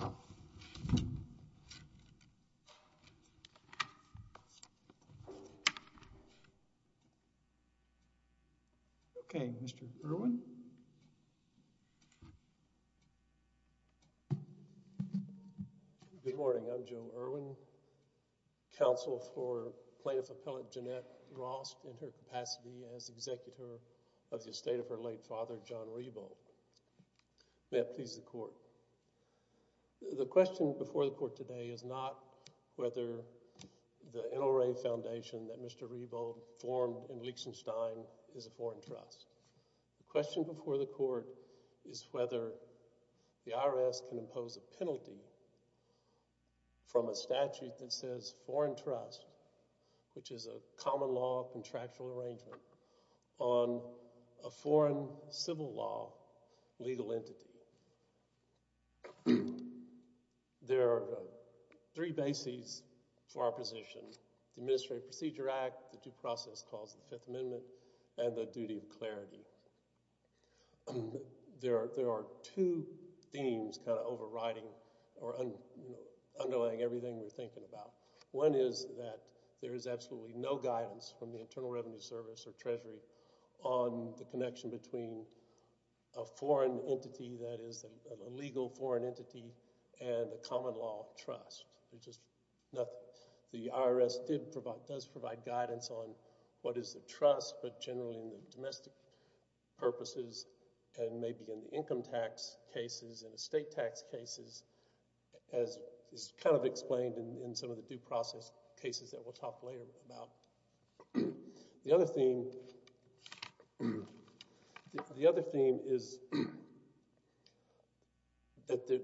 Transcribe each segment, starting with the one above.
of America. Okay, Mr. Irwin. Good morning, I'm Joe Irwin, counsel for plaintiff appellant Jeanette Rost in her capacity as executor of the estate of her late father John Rebo. May it please the court. The question before the court today is not whether the NRA foundation that Mr. Rebo formed in Liechtenstein is a foreign trust. The question before the court is whether the IRS can impose a penalty from a statute that says foreign trust, which is a common law contractual arrangement on a foreign civil law legal entity. There are three bases for our position, the Administrative Procedure Act, the due process clause of the Fifth Amendment, and the duty of clarity. There are two themes kind of overriding or underlying everything we're thinking about. One is that there is absolutely no guidance from the Internal Revenue Service or Treasury on the connection between a foreign entity that is a legal foreign entity and a common law trust. The IRS does provide guidance on what is the trust, but generally in the domestic purposes and maybe in the income tax cases and estate tax cases, as is kind of explained in some of the due process cases that we'll talk later about. The other theme is that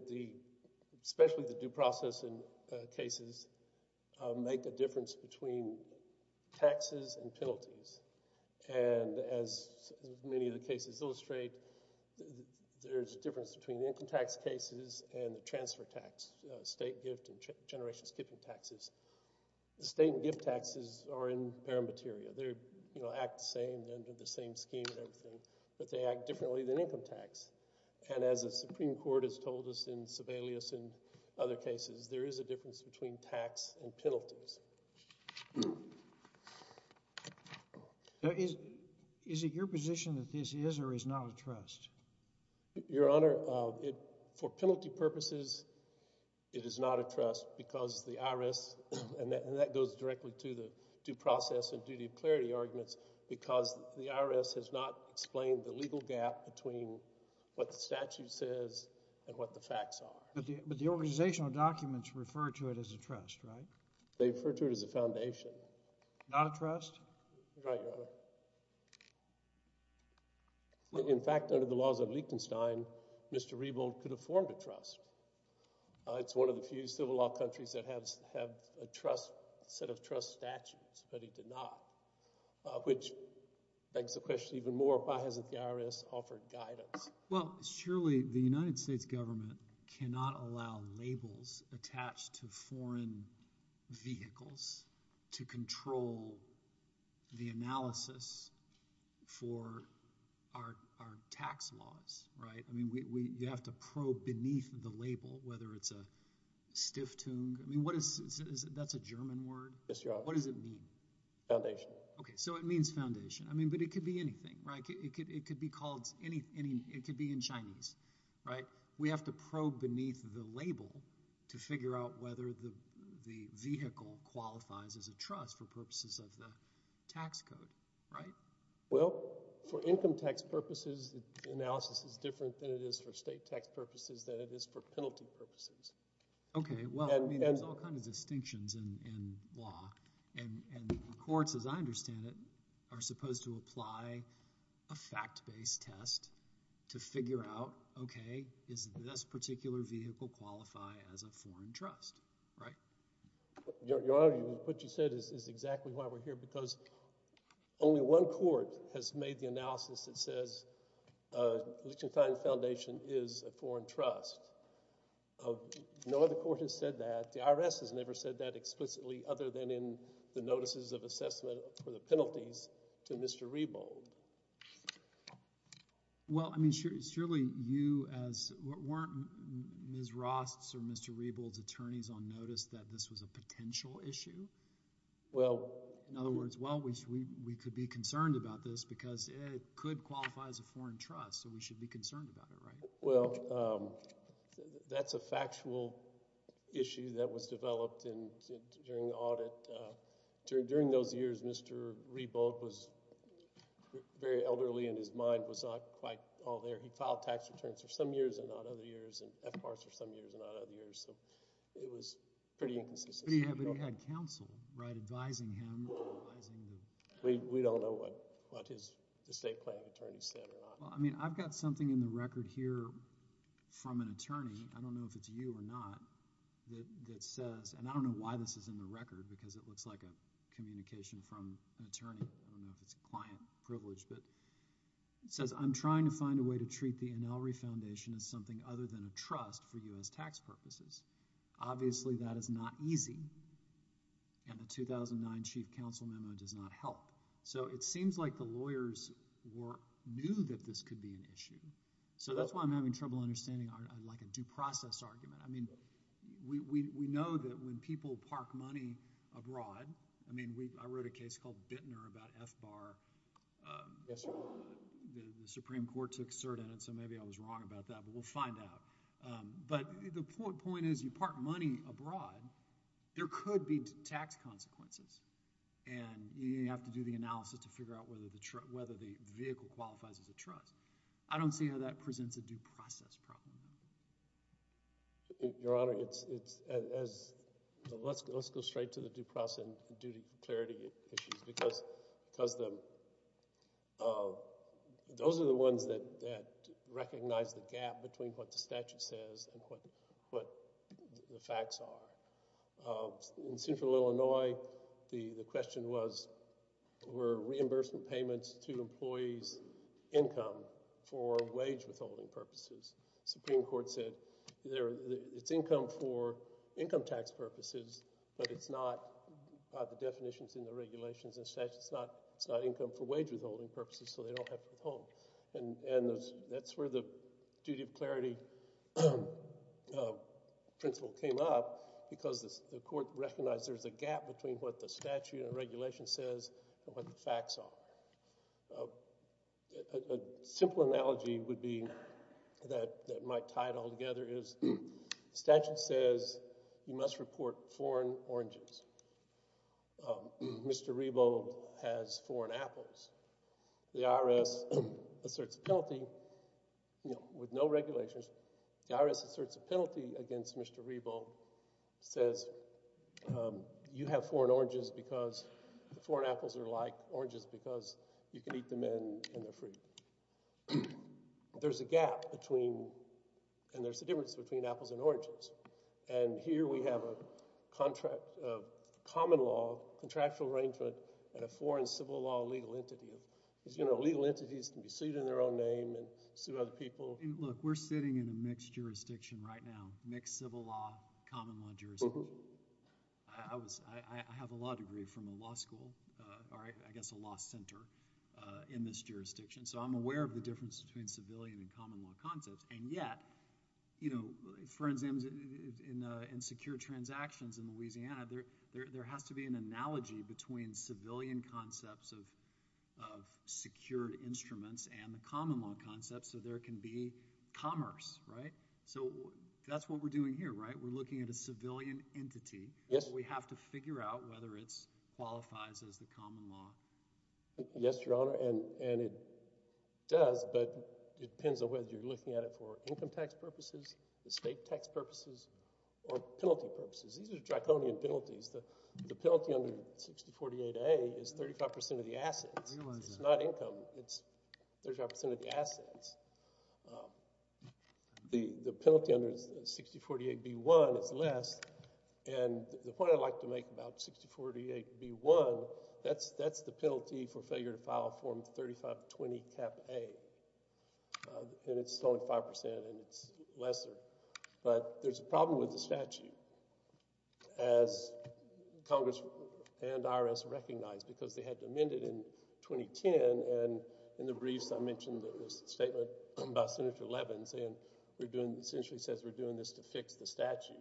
especially the due process cases make a difference between taxes and penalties. And as many of the cases illustrate, there's a difference between income tax cases and the transfer tax, estate gift and generation skipping taxes. The estate and gift taxes are in paramateria. They act the same under the same scheme and everything, but they act differently than income tax. And as the Supreme Court has told us in Sebelius and other cases, there is a difference between tax and penalties. Is it your position that this is or is not a trust? Your Honor, for penalty purposes, it is not a trust because the IRS, and that goes directly to the due process and duty of clarity arguments, because the IRS has not explained the legal gap between what the statute says and what the facts are. But the organizational documents refer to it as a trust, right? They refer to it as a foundation. Not a trust? Right, Your Honor. In fact, under the laws of Liechtenstein, Mr. Rebold could have formed a trust. It's one of the few civil law countries that have a set of trust statutes, but he did not, which begs the question even more, why hasn't the IRS offered guidance? Well, surely the United States government cannot allow labels attached to foreign vehicles to control the analysis for our tax laws, right? I mean, you have to probe beneath the label, whether it's a Stiftung. I mean, what is, that's a German word? Yes, Your Honor. What does it mean? Foundation. Okay, so it means foundation. I mean, but it could be anything, right? It could be called any, it could be in Chinese, right? But we have to probe beneath the label to figure out whether the vehicle qualifies as a trust for purposes of the tax code, right? Well, for income tax purposes, the analysis is different than it is for state tax purposes, than it is for penalty purposes. Okay, well, I mean, there's all kinds of distinctions in law. And the courts, as I understand it, are supposed to apply a fact-based test to figure out, okay, does this particular vehicle qualify as a foreign trust, right? Your Honor, what you said is exactly why we're here, because only one court has made the analysis that says Lichtenstein Foundation is a foreign trust. No other court has said that. In fact, the IRS has never said that explicitly other than in the notices of assessment for the penalties to Mr. Rebold. Well, I mean, surely you as – weren't Ms. Rost's or Mr. Rebold's attorneys on notice that this was a potential issue? Well – In other words, well, we could be concerned about this because it could qualify as a foreign trust, so we should be concerned about it, right? Well, that's a factual issue that was developed during the audit. During those years, Mr. Rebold was very elderly, and his mind was not quite all there. He filed tax returns for some years and not other years, and FBARs for some years and not other years. So it was pretty inconsistent. But he had counsel, right, advising him. We don't know what the state plaintiff attorney said or not. Well, I mean, I've got something in the record here from an attorney. I don't know if it's you or not that says – and I don't know why this is in the record because it looks like a communication from an attorney. I don't know if it's a client privilege, but it says, I'm trying to find a way to treat the Ann Elrey Foundation as something other than a trust for U.S. tax purposes. Obviously, that is not easy, and the 2009 chief counsel memo does not help. So it seems like the lawyers knew that this could be an issue. So that's why I'm having trouble understanding like a due process argument. I mean we know that when people park money abroad – I mean I wrote a case called Bittner about FBAR. Yes, sir. The Supreme Court took cert in it, so maybe I was wrong about that, but we'll find out. But the point is you park money abroad, there could be tax consequences, and you have to do the analysis to figure out whether the vehicle qualifies as a trust. I don't see how that presents a due process problem. Your Honor, let's go straight to the due process and duty clarity issues because those are the ones that recognize the gap between what the statute says and what the facts are. In Central Illinois, the question was were reimbursement payments to employees income for wage withholding purposes? The Supreme Court said it's income for income tax purposes, but it's not – by the definitions in the regulations and statutes, it's not income for wage withholding purposes, so they don't have to withhold. And that's where the duty of clarity principle came up because the court recognized there's a gap between what the statute and regulation says and what the facts are. A simple analogy would be that might tie it all together is the statute says you must report foreign oranges. Mr. Rebo has foreign apples. The IRS asserts a penalty with no regulations. The IRS asserts a penalty against Mr. Rebo. It says you have foreign oranges because the foreign apples are like oranges because you can eat them and they're free. There's a gap between – and there's a difference between apples and oranges. And here we have a common law contractual arrangement and a foreign civil law legal entity. As you know, legal entities can be sued in their own name and sue other people. Look, we're sitting in a mixed jurisdiction right now, mixed civil law, common law jurisdiction. I have a law degree from a law school or I guess a law center in this jurisdiction, so I'm aware of the difference between civilian and common law concepts. And yet, for example, in secure transactions in Louisiana, there has to be an analogy between civilian concepts of secured instruments and the common law concepts so there can be commerce, right? So that's what we're doing here, right? We're looking at a civilian entity. We have to figure out whether it qualifies as the common law. Yes, Your Honor, and it does, but it depends on whether you're looking at it for income tax purposes, estate tax purposes, or penalty purposes. These are draconian penalties. The penalty under 6048A is 35% of the assets. It's not income. It's 30% of the assets. The penalty under 6048B1 is less, and the point I'd like to make about 6048B1, that's the penalty for failure to file Form 3520, Cap A, and it's only 5% and it's lesser. But there's a problem with the statute as Congress and IRS recognized because they had to amend it in 2010, and in the briefs I mentioned there was a statement by Senator Levin saying we're doing – essentially says we're doing this to fix the statute.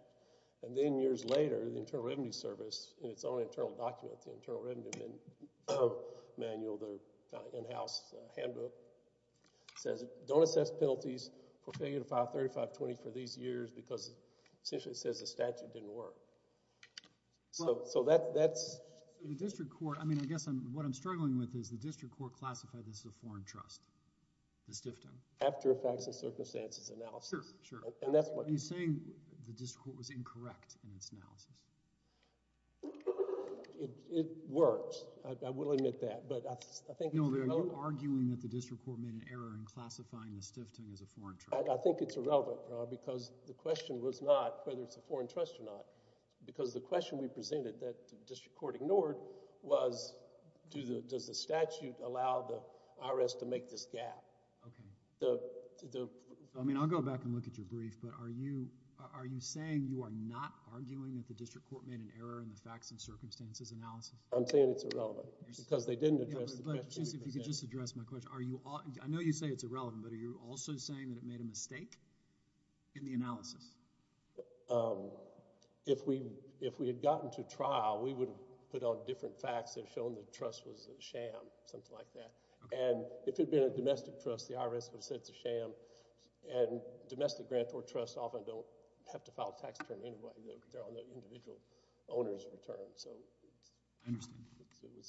And then years later, the Internal Revenue Service in its own internal document, the Internal Revenue Manual, the in-house handbook, says don't assess penalties for failure to file 3520 for these years because essentially it says the statute didn't work. So that's – The district court – I mean I guess what I'm struggling with is the district court classified this as a foreign trust, the Stifton. After effects and circumstances analysis. Sure, sure. And that's what – Are you saying the district court was incorrect in its analysis? It worked. I will admit that, but I think it's irrelevant. No, you're arguing that the district court made an error in classifying the Stifton as a foreign trust. I think it's irrelevant, because the question was not whether it's a foreign trust or not, because the question we presented that the district court ignored was does the statute allow the IRS to make this gap? Okay. I mean I'll go back and look at your brief, but are you saying you are not arguing that the district court made an error in the facts and circumstances analysis? I'm saying it's irrelevant, because they didn't address the question we presented. If you could just address my question. I know you say it's irrelevant, but are you also saying that it made a mistake in the analysis? If we had gotten to trial, we would have put on different facts and shown the trust was a sham, something like that. And if it had been a domestic trust, the IRS would have said it's a sham, and domestic grants or trusts often don't have to file a tax return anyway. They're on the individual owner's return. I understand.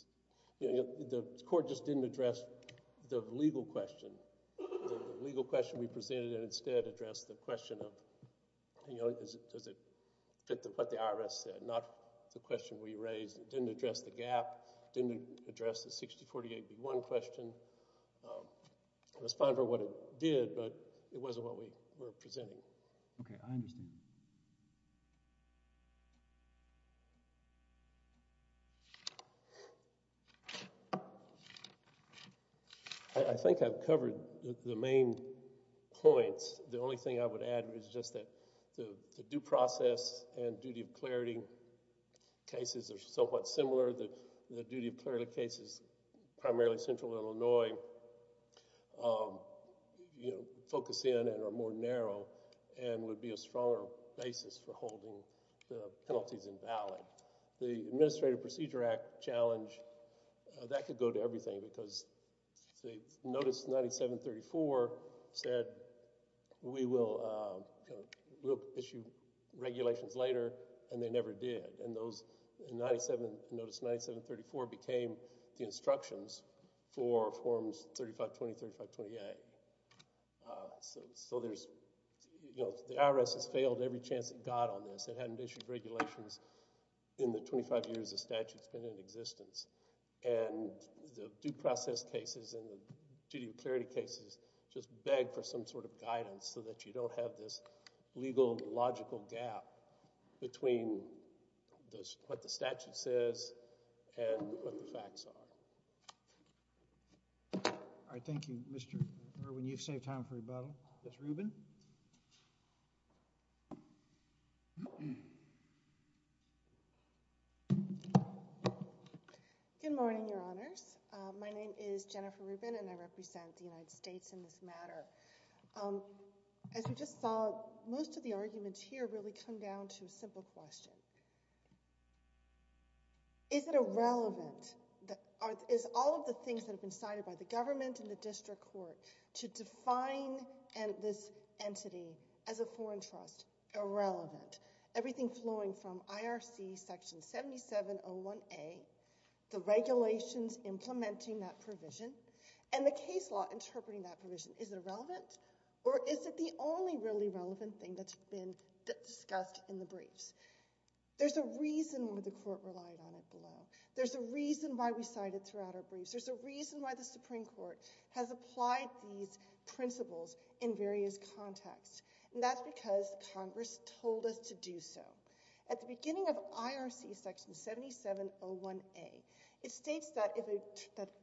The court just didn't address the legal question. The legal question we presented instead addressed the question of does it fit what the IRS said, not the question we raised. It didn't address the gap. It didn't address the 6048B1 question. It was fine for what it did, but it wasn't what we were presenting. Okay, I understand. I think I've covered the main points. The only thing I would add is just that the due process and duty of clarity cases are somewhat similar. The duty of clarity cases, primarily Central Illinois, focus in and are more narrow and would be a stronger basis for holding the penalties invalid. The Administrative Procedure Act challenge, that could go to everything because Notice 9734 said we will issue regulations later, and they never did. And Notice 9734 became the instructions for Forms 3520, 3528. The IRS has failed every chance it got on this. It hadn't issued regulations in the 25 years the statute's been in existence. And the due process cases and the duty of clarity cases just beg for some sort of guidance so that you don't have this legal and logical gap between what the statute says and what the facts are. All right, thank you, Mr. Irwin. You've saved time for rebuttal. Ms. Rubin? Good morning, Your Honors. My name is Jennifer Rubin, and I represent the United States in this matter. As we just saw, most of the arguments here really come down to a simple question. Is it irrelevant, is all of the things that have been cited by the government and the district court to define this entity as a foreign trust irrelevant? Everything flowing from IRC Section 7701A, the regulations implementing that provision, and the case law interpreting that provision, is it irrelevant? Or is it the only really relevant thing that's been discussed in the briefs? There's a reason why the court relied on it below. There's a reason why we cited it throughout our briefs. There's a reason why the Supreme Court has applied these principles in various contexts. And that's because Congress told us to do so. At the beginning of IRC Section 7701A, it states that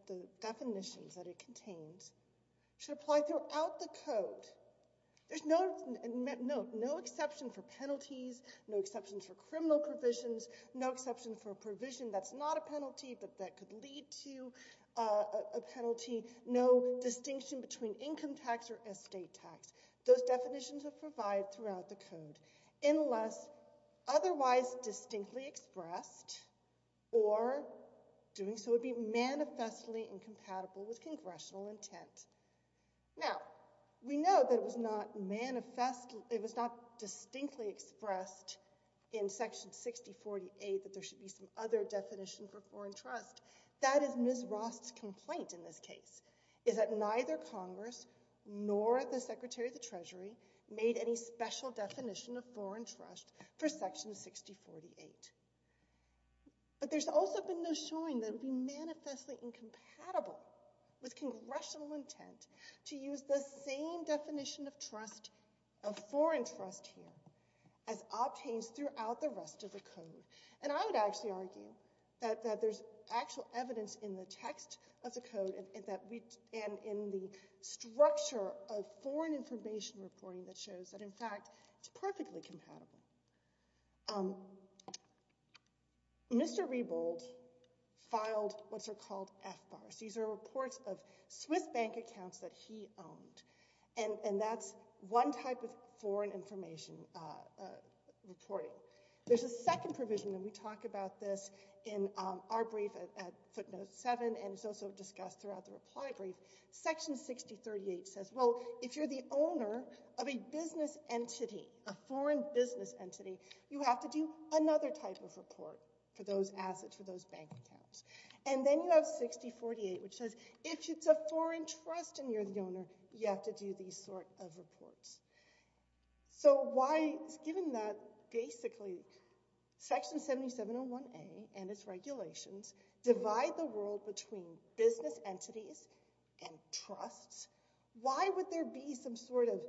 the definitions that it contains should apply throughout the code. There's no exception for penalties, no exceptions for criminal provisions, no exception for a provision that's not a penalty but that could lead to a penalty, no distinction between income tax or estate tax. Those definitions are provided throughout the code. Unless otherwise distinctly expressed, or doing so would be manifestly incompatible with congressional intent. Now, we know that it was not distinctly expressed in Section 6048 that there should be some other definition for foreign trust. That is Ms. Ross' complaint in this case, is that neither Congress nor the Secretary of the Treasury made any special definition of foreign trust for Section 6048. But there's also been no showing that it would be manifestly incompatible with congressional intent to use the same definition of foreign trust here as obtains throughout the rest of the code. And I would actually argue that there's actual evidence in the text of the code and in the structure of foreign information reporting that shows that, in fact, it's perfectly compatible. Mr. Rebold filed what are called FBARs. These are reports of Swiss bank accounts that he owned. And that's one type of foreign information reporting. There's a second provision, and we talk about this in our brief at footnote 7 and it's also discussed throughout the reply brief. Section 6038 says, well, if you're the owner of a business entity, a foreign business entity, you have to do another type of report for those assets, for those bank accounts. And then you have 6048, which says, if it's a foreign trust and you're the owner, you have to do these sort of reports. So why, given that basically Section 7701A and its regulations divide the world between business entities and trusts, why would there be some sort of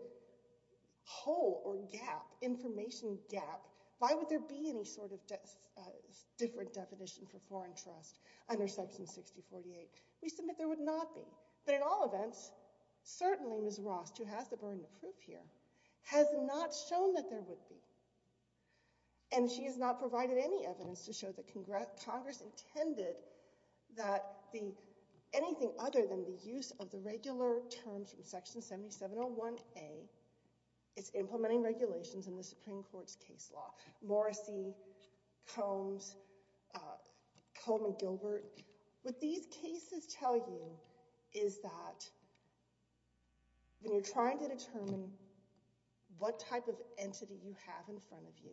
hole or gap, information gap? Why would there be any sort of different definition for foreign trust under Section 6048? We submit there would not be. But in all events, certainly Ms. Ross, who has the burden of proof here, has not shown that there would be. And she has not provided any evidence to show that Congress intended that anything other than the use of the regular terms from Section 7701A is implementing regulations in the Supreme Court's case law. Morrissey, Combs, Combs and Gilbert, what these cases tell you is that when you're trying to determine what type of entity you have in front of you,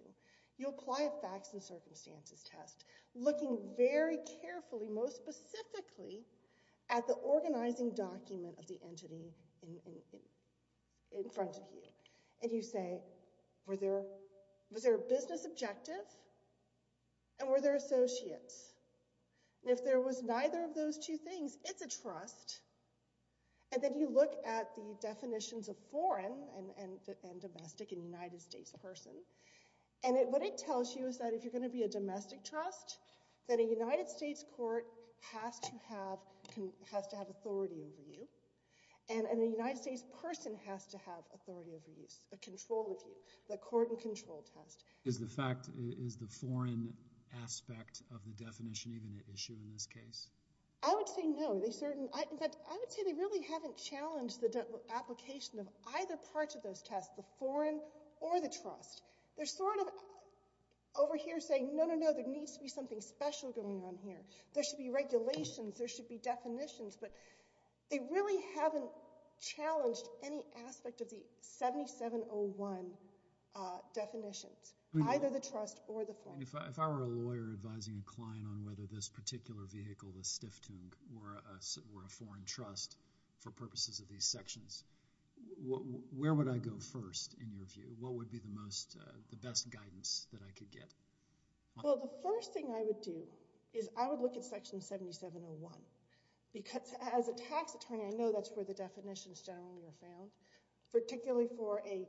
you apply a facts and circumstances test, looking very carefully, most specifically at the organizing document of the entity in front of you. And you say, was there a business objective and were there associates? And if there was neither of those two things, it's a trust. And then you look at the definitions of foreign and domestic and United States person. And what it tells you is that if you're going to be a domestic trust, that a United States court has to have authority over you. And a United States person has to have authority over you, control of you, the court and control test. Is the fact, is the foreign aspect of the definition even an issue in this case? I would say no. In fact, I would say they really haven't challenged the application of either part of those tests, the foreign or the trust. They're sort of over here saying, no, no, no, there needs to be something special going on here. There should be regulations. There should be definitions. But they really haven't challenged any aspect of the 7701 definitions, either the trust or the foreign. If I were a lawyer advising a client on whether this particular vehicle, the Stiftung, were a foreign trust for purposes of these sections, where would I go first in your view? What would be the best guidance that I could get? Well, the first thing I would do is I would look at Section 7701. As a tax attorney, I know that's where the definitions generally are found, particularly for a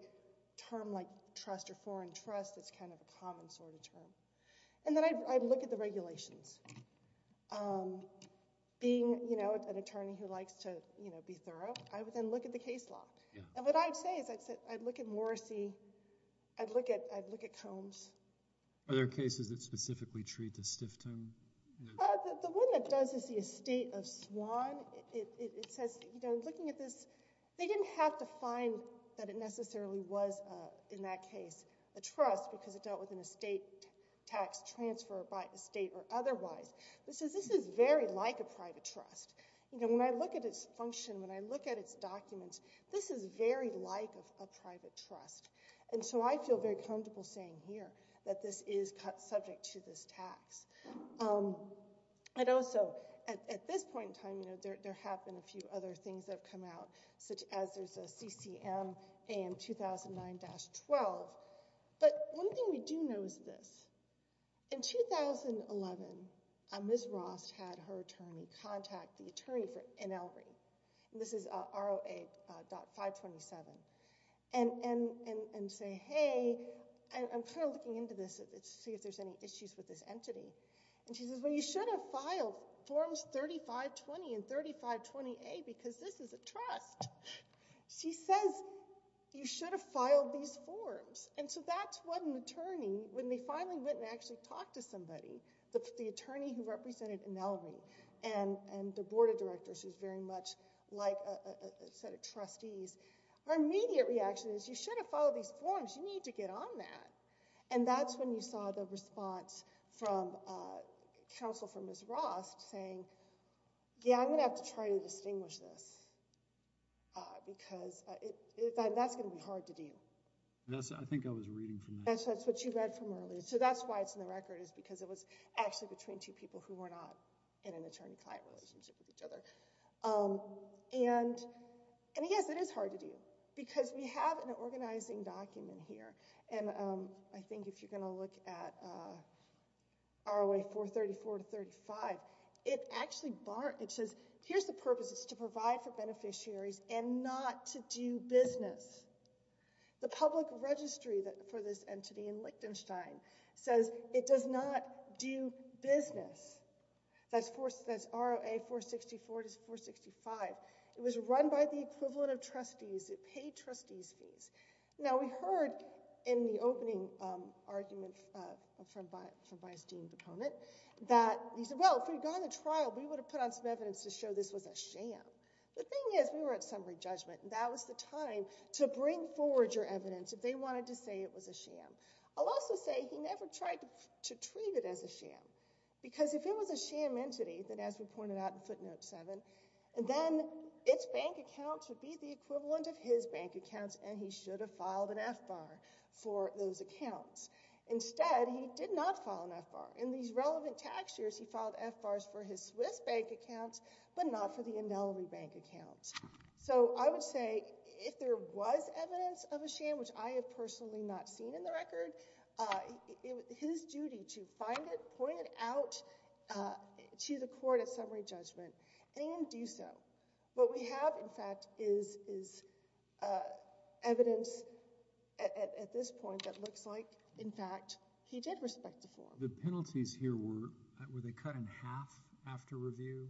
term like trust or foreign trust. It's kind of a common sort of term. And then I'd look at the regulations. Being an attorney who likes to be thorough, I would then look at the case law. And what I'd say is I'd look at Morrissey. I'd look at Combs. Are there cases that specifically treat the Stiftung? The one that does is the estate of Swan. It says, looking at this, they didn't have to find that it necessarily was, in that case, a trust because it dealt with an estate tax transfer by estate or otherwise. This is very like a private trust. When I look at its function, when I look at its documents, this is very like a private trust. And so I feel very comfortable saying here that this is subject to this tax. And also, at this point in time, there have been a few other things that have come out, such as there's a CCM AM 2009-12. But one thing we do know is this. In 2011, Ms. Ross had her attorney contact the attorney for NLRI. And this is ROA.527. And say, hey, I'm kind of looking into this to see if there's any issues with this entity. And she says, well, you should have filed forms 3520 and 3520A because this is a trust. She says, you should have filed these forms. And so that's what an attorney, when they finally went and actually talked to somebody, the attorney who represented NLRI and the board of directors, which is very much like a set of trustees, our immediate reaction is, you should have filed these forms. You need to get on that. And that's when you saw the response from counsel for Ms. Ross saying, yeah, I'm going to have to try to distinguish this because that's going to be hard to do. I think I was reading from that. So that's why it's in the record is because it was actually between two people who were not in an attorney-client relationship with each other. And, yes, it is hard to do because we have an organizing document here. And I think if you're going to look at ROA 434-35, it actually says, here's the purpose. It's to provide for beneficiaries and not to do business. The public registry for this entity in Liechtenstein says it does not do business. That's ROA 464-465. It was run by the equivalent of trustees. It paid trustees' fees. Now, we heard in the opening argument from Vice Dean Bacone that he said, well, if we'd gone to trial, we would have put on some evidence to show this was a sham. The thing is, we were at summary judgment, and that was the time to bring forward your evidence if they wanted to say it was a sham. I'll also say he never tried to treat it as a sham because if it was a sham entity, as we pointed out in footnote 7, then its bank accounts would be the equivalent of his bank accounts, and he should have filed an F-bar for those accounts. Instead, he did not file an F-bar. In these relevant tax years, he filed F-bars for his Swiss bank accounts but not for the Indeliby bank accounts. So I would say if there was evidence of a sham, which I have personally not seen in the record, it was his duty to find it, point it out to the court at summary judgment, and do so. What we have, in fact, is evidence at this point that looks like, in fact, he did respect the form. The penalties here, were they cut in half after review?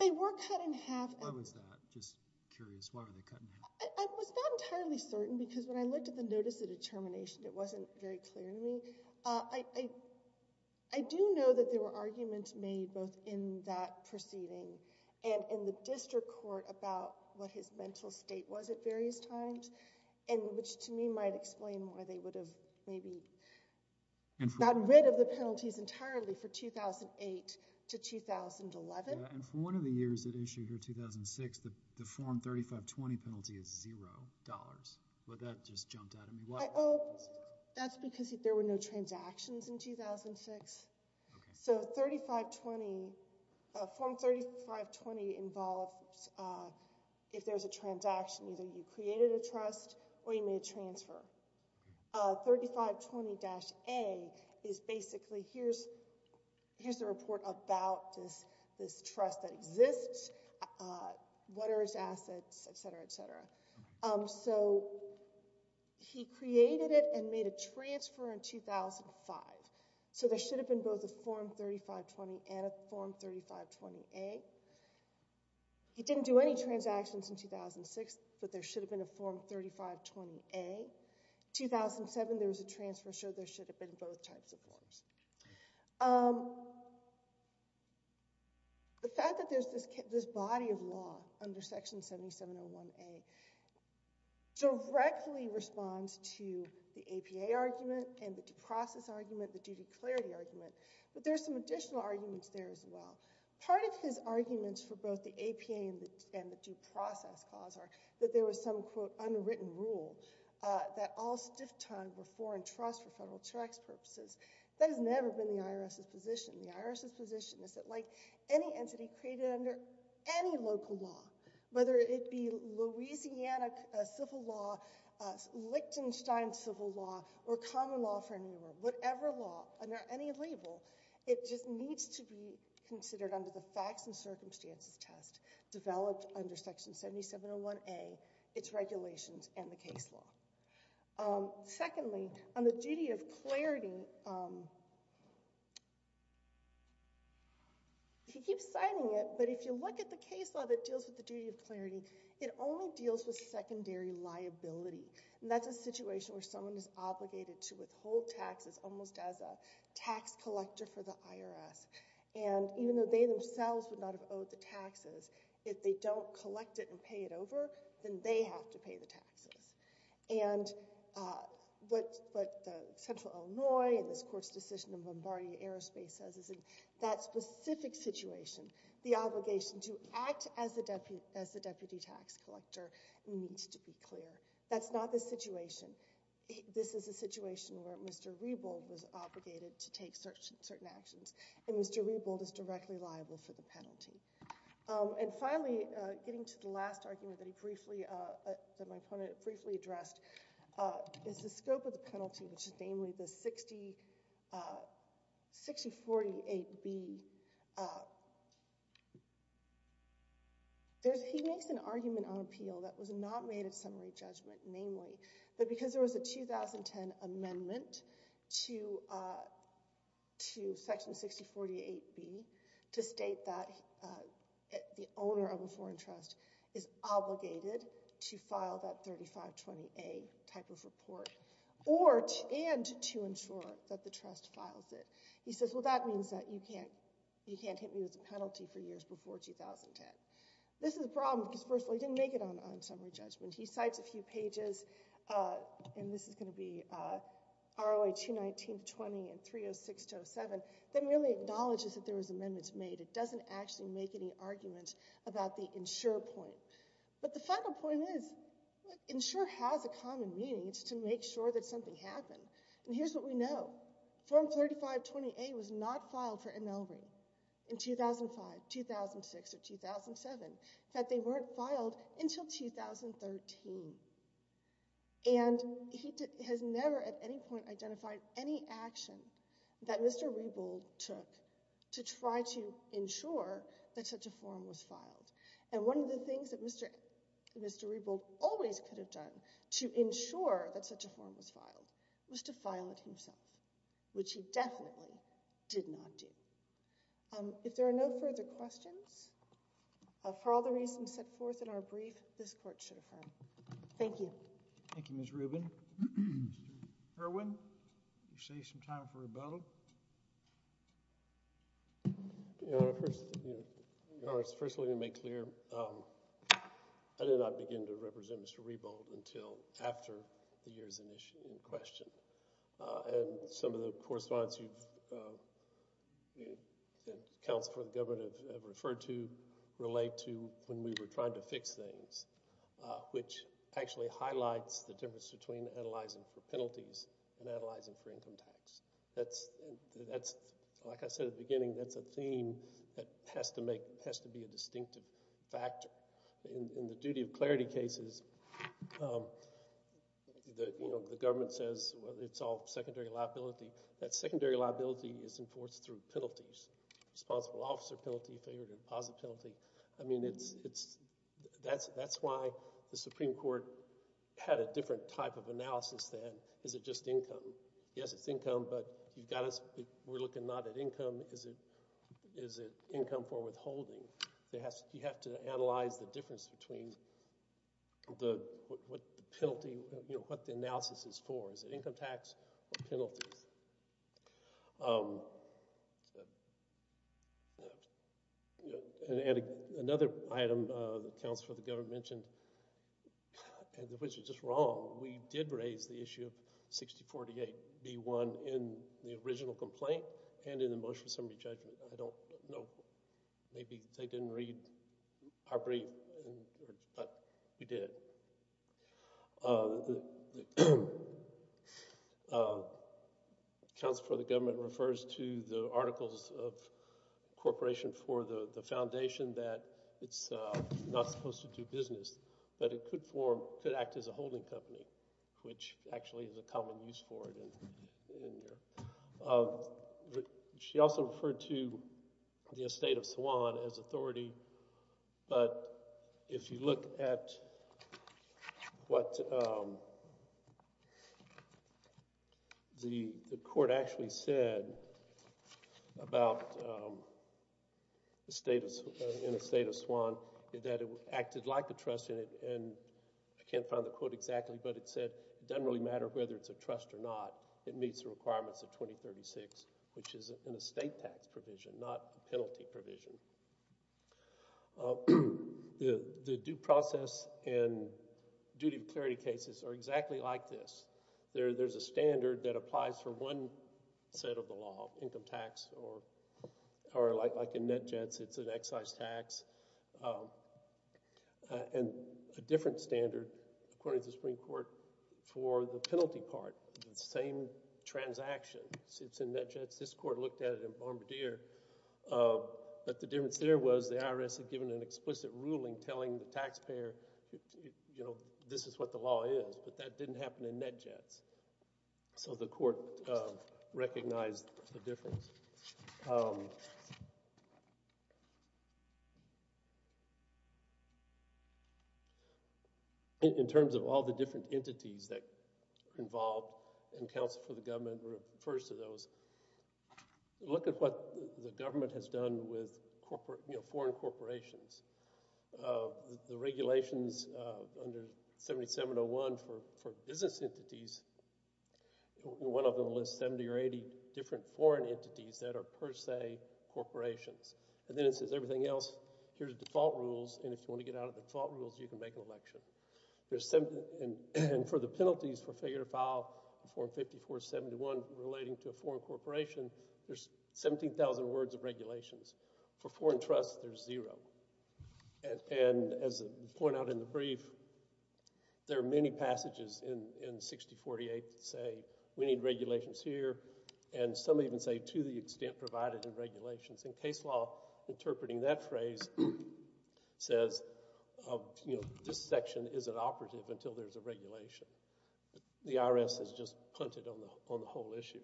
They were cut in half. Why was that? Just curious. Why were they cut in half? I was not entirely certain because when I looked at the notice of determination, it wasn't very clear to me. I do know that there were arguments made both in that proceeding and in the district court about what his mental state was at various times, which to me might explain why they would have maybe gotten rid of the penalties entirely for 2008 to 2011. And for one of the years that issued here, 2006, the Form 3520 penalty is $0. But that just jumped out at me. That's because there were no transactions in 2006. So Form 3520 involves, if there's a transaction, either you created a trust or you made a transfer. 3520-A is basically here's the report about this trust that exists, what are its assets, etc., etc. So he created it and made a transfer in 2005. So there should have been both a Form 3520 and a Form 3520-A. He didn't do any transactions in 2006, but there should have been a Form 3520-A. In 2007, there was a transfer, so there should have been both types of forms. The fact that there's this body of law under Section 7701-A directly responds to the APA argument and the due process argument, the duty clarity argument. But there's some additional arguments there as well. Part of his arguments for both the APA and the due process clause are that there was some, quote, That has never been the IRS's position. The IRS's position is that like any entity created under any local law, whether it be Louisiana civil law, Lichtenstein civil law, or common law for any law, whatever law, under any label, it just needs to be considered under the facts and circumstances test developed under Section 7701-A, its regulations, and the case law. Secondly, on the duty of clarity, he keeps citing it, but if you look at the case law that deals with the duty of clarity, it only deals with secondary liability. And that's a situation where someone is obligated to withhold taxes almost as a tax collector for the IRS. And even though they themselves would not have owed the taxes, if they don't collect it and pay it over, then they have to pay the taxes. And what Central Illinois and this Court's decision in Bombardier Aerospace says is in that specific situation, the obligation to act as the deputy tax collector needs to be clear. That's not the situation. This is a situation where Mr. Rebold was obligated to take certain actions, and Mr. Rebold is directly liable for the penalty. And finally, getting to the last argument that my opponent briefly addressed, is the scope of the penalty, which is namely the 6048-B. He makes an argument on appeal that was not made at summary judgment, namely that because there was a 2010 amendment to Section 6048-B to state that the owner of a foreign trust is obligated to file that 3520-A type of report, and to ensure that the trust files it. He says, well, that means that you can't hit me with the penalty for years before 2010. This is a problem because, first of all, he didn't make it on summary judgment. He cites a few pages, and this is going to be ROA 219-20 and 306-07, that merely acknowledges that there was amendments made. It doesn't actually make any argument about the ensure point. But the final point is ensure has a common meaning. It's to make sure that something happened. And here's what we know. Form 3520-A was not filed for annulment in 2005, 2006, or 2007. In fact, they weren't filed until 2013. And he has never at any point identified any action that Mr. Rebold took to try to ensure that such a form was filed. And one of the things that Mr. Rebold always could have done to ensure that such a form was filed was to file it himself, which he definitely did not do. If there are no further questions, for all the reasons set forth in our brief, this court should affirm. Thank you. Thank you, Ms. Rubin. Mr. Irwin, you save some time for rebuttal. First of all, let me make clear, I did not begin to represent Mr. Rebold until after the year's in question. And some of the correspondence that counsel for the government have referred to relate to when we were trying to fix things, which actually highlights the difference between analyzing for penalties and analyzing for income tax. That's, like I said at the beginning, that's a theme that has to be a distinctive factor. In the duty of clarity cases, the government says it's all secondary liability. That secondary liability is enforced through penalties, responsible officer penalty, failure to deposit penalty. I mean, that's why the Supreme Court had a different type of analysis then. Is it just income? Yes, it's income, but you've got to – we're looking not at income. Is it income for withholding? You have to analyze the difference between what the penalty – what the analysis is for. Is it income tax or penalties? And another item that counsel for the government mentioned, which was just wrong, we did raise the issue of 6048B1 in the original complaint and in the motion of summary judgment. I don't know. Maybe they didn't read our brief, but we did. Counsel for the government refers to the articles of incorporation for the foundation that it's not supposed to do business, but it could act as a holding company, which actually is a common use for it. She also referred to the estate of Swann as authority, but if you look at what the court actually said about the estate of Swann, that it acted like a trust, and I can't find the quote exactly, but it said, it doesn't really matter whether it's a trust or not. It meets the requirements of 2036, which is an estate tax provision, not a penalty provision. The due process and duty of clarity cases are exactly like this. There's a standard that applies for one set of the law, income tax, or like in NetJets, it's an excise tax. And a different standard, according to the Supreme Court, for the penalty part, the same transaction. It's in NetJets. This court looked at it in Bombardier, but the difference there was the IRS had given an explicit ruling telling the taxpayer, this is what the law is, but that didn't happen in NetJets. So the court recognized the difference. In terms of all the different entities that are involved, and counsel for the government refers to those, look at what the government has done with foreign corporations. The regulations under 7701 for business entities, one of them lists 70 or 80 different foreign entities that are per se corporations. And then it says everything else, here's default rules, and if you want to get out of default rules, you can make an election. And for the penalties for failure to file 45471 relating to a foreign corporation, there's 17,000 words of regulations. For foreign trusts, there's zero. And as I point out in the brief, there are many passages in 6048 that say we need regulations here, and some even say to the extent provided in regulations. In case law, interpreting that phrase says this section isn't operative until there's a regulation. The IRS has just punted on the whole issue.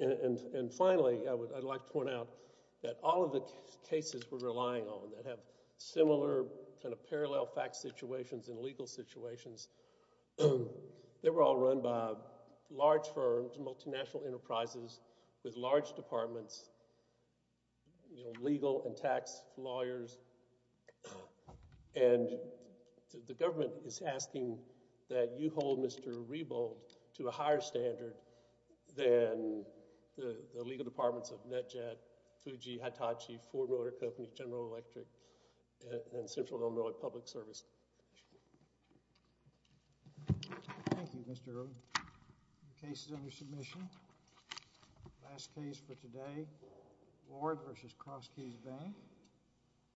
And finally, I'd like to point out that all of the cases we're relying on that have similar kind of parallel fact situations and legal situations, they were all run by large firms, multinational enterprises with large departments, legal and tax lawyers. And the government is asking that you hold Mr. Rebold to a higher standard than the legal departments of NetJet, Fuji, Hitachi, Ford Motor Company, General Electric, and Central Illinois Public Service. Thank you, Mr. Early. The case is under submission. Last case for today, Ward v. Crosskeys Bank.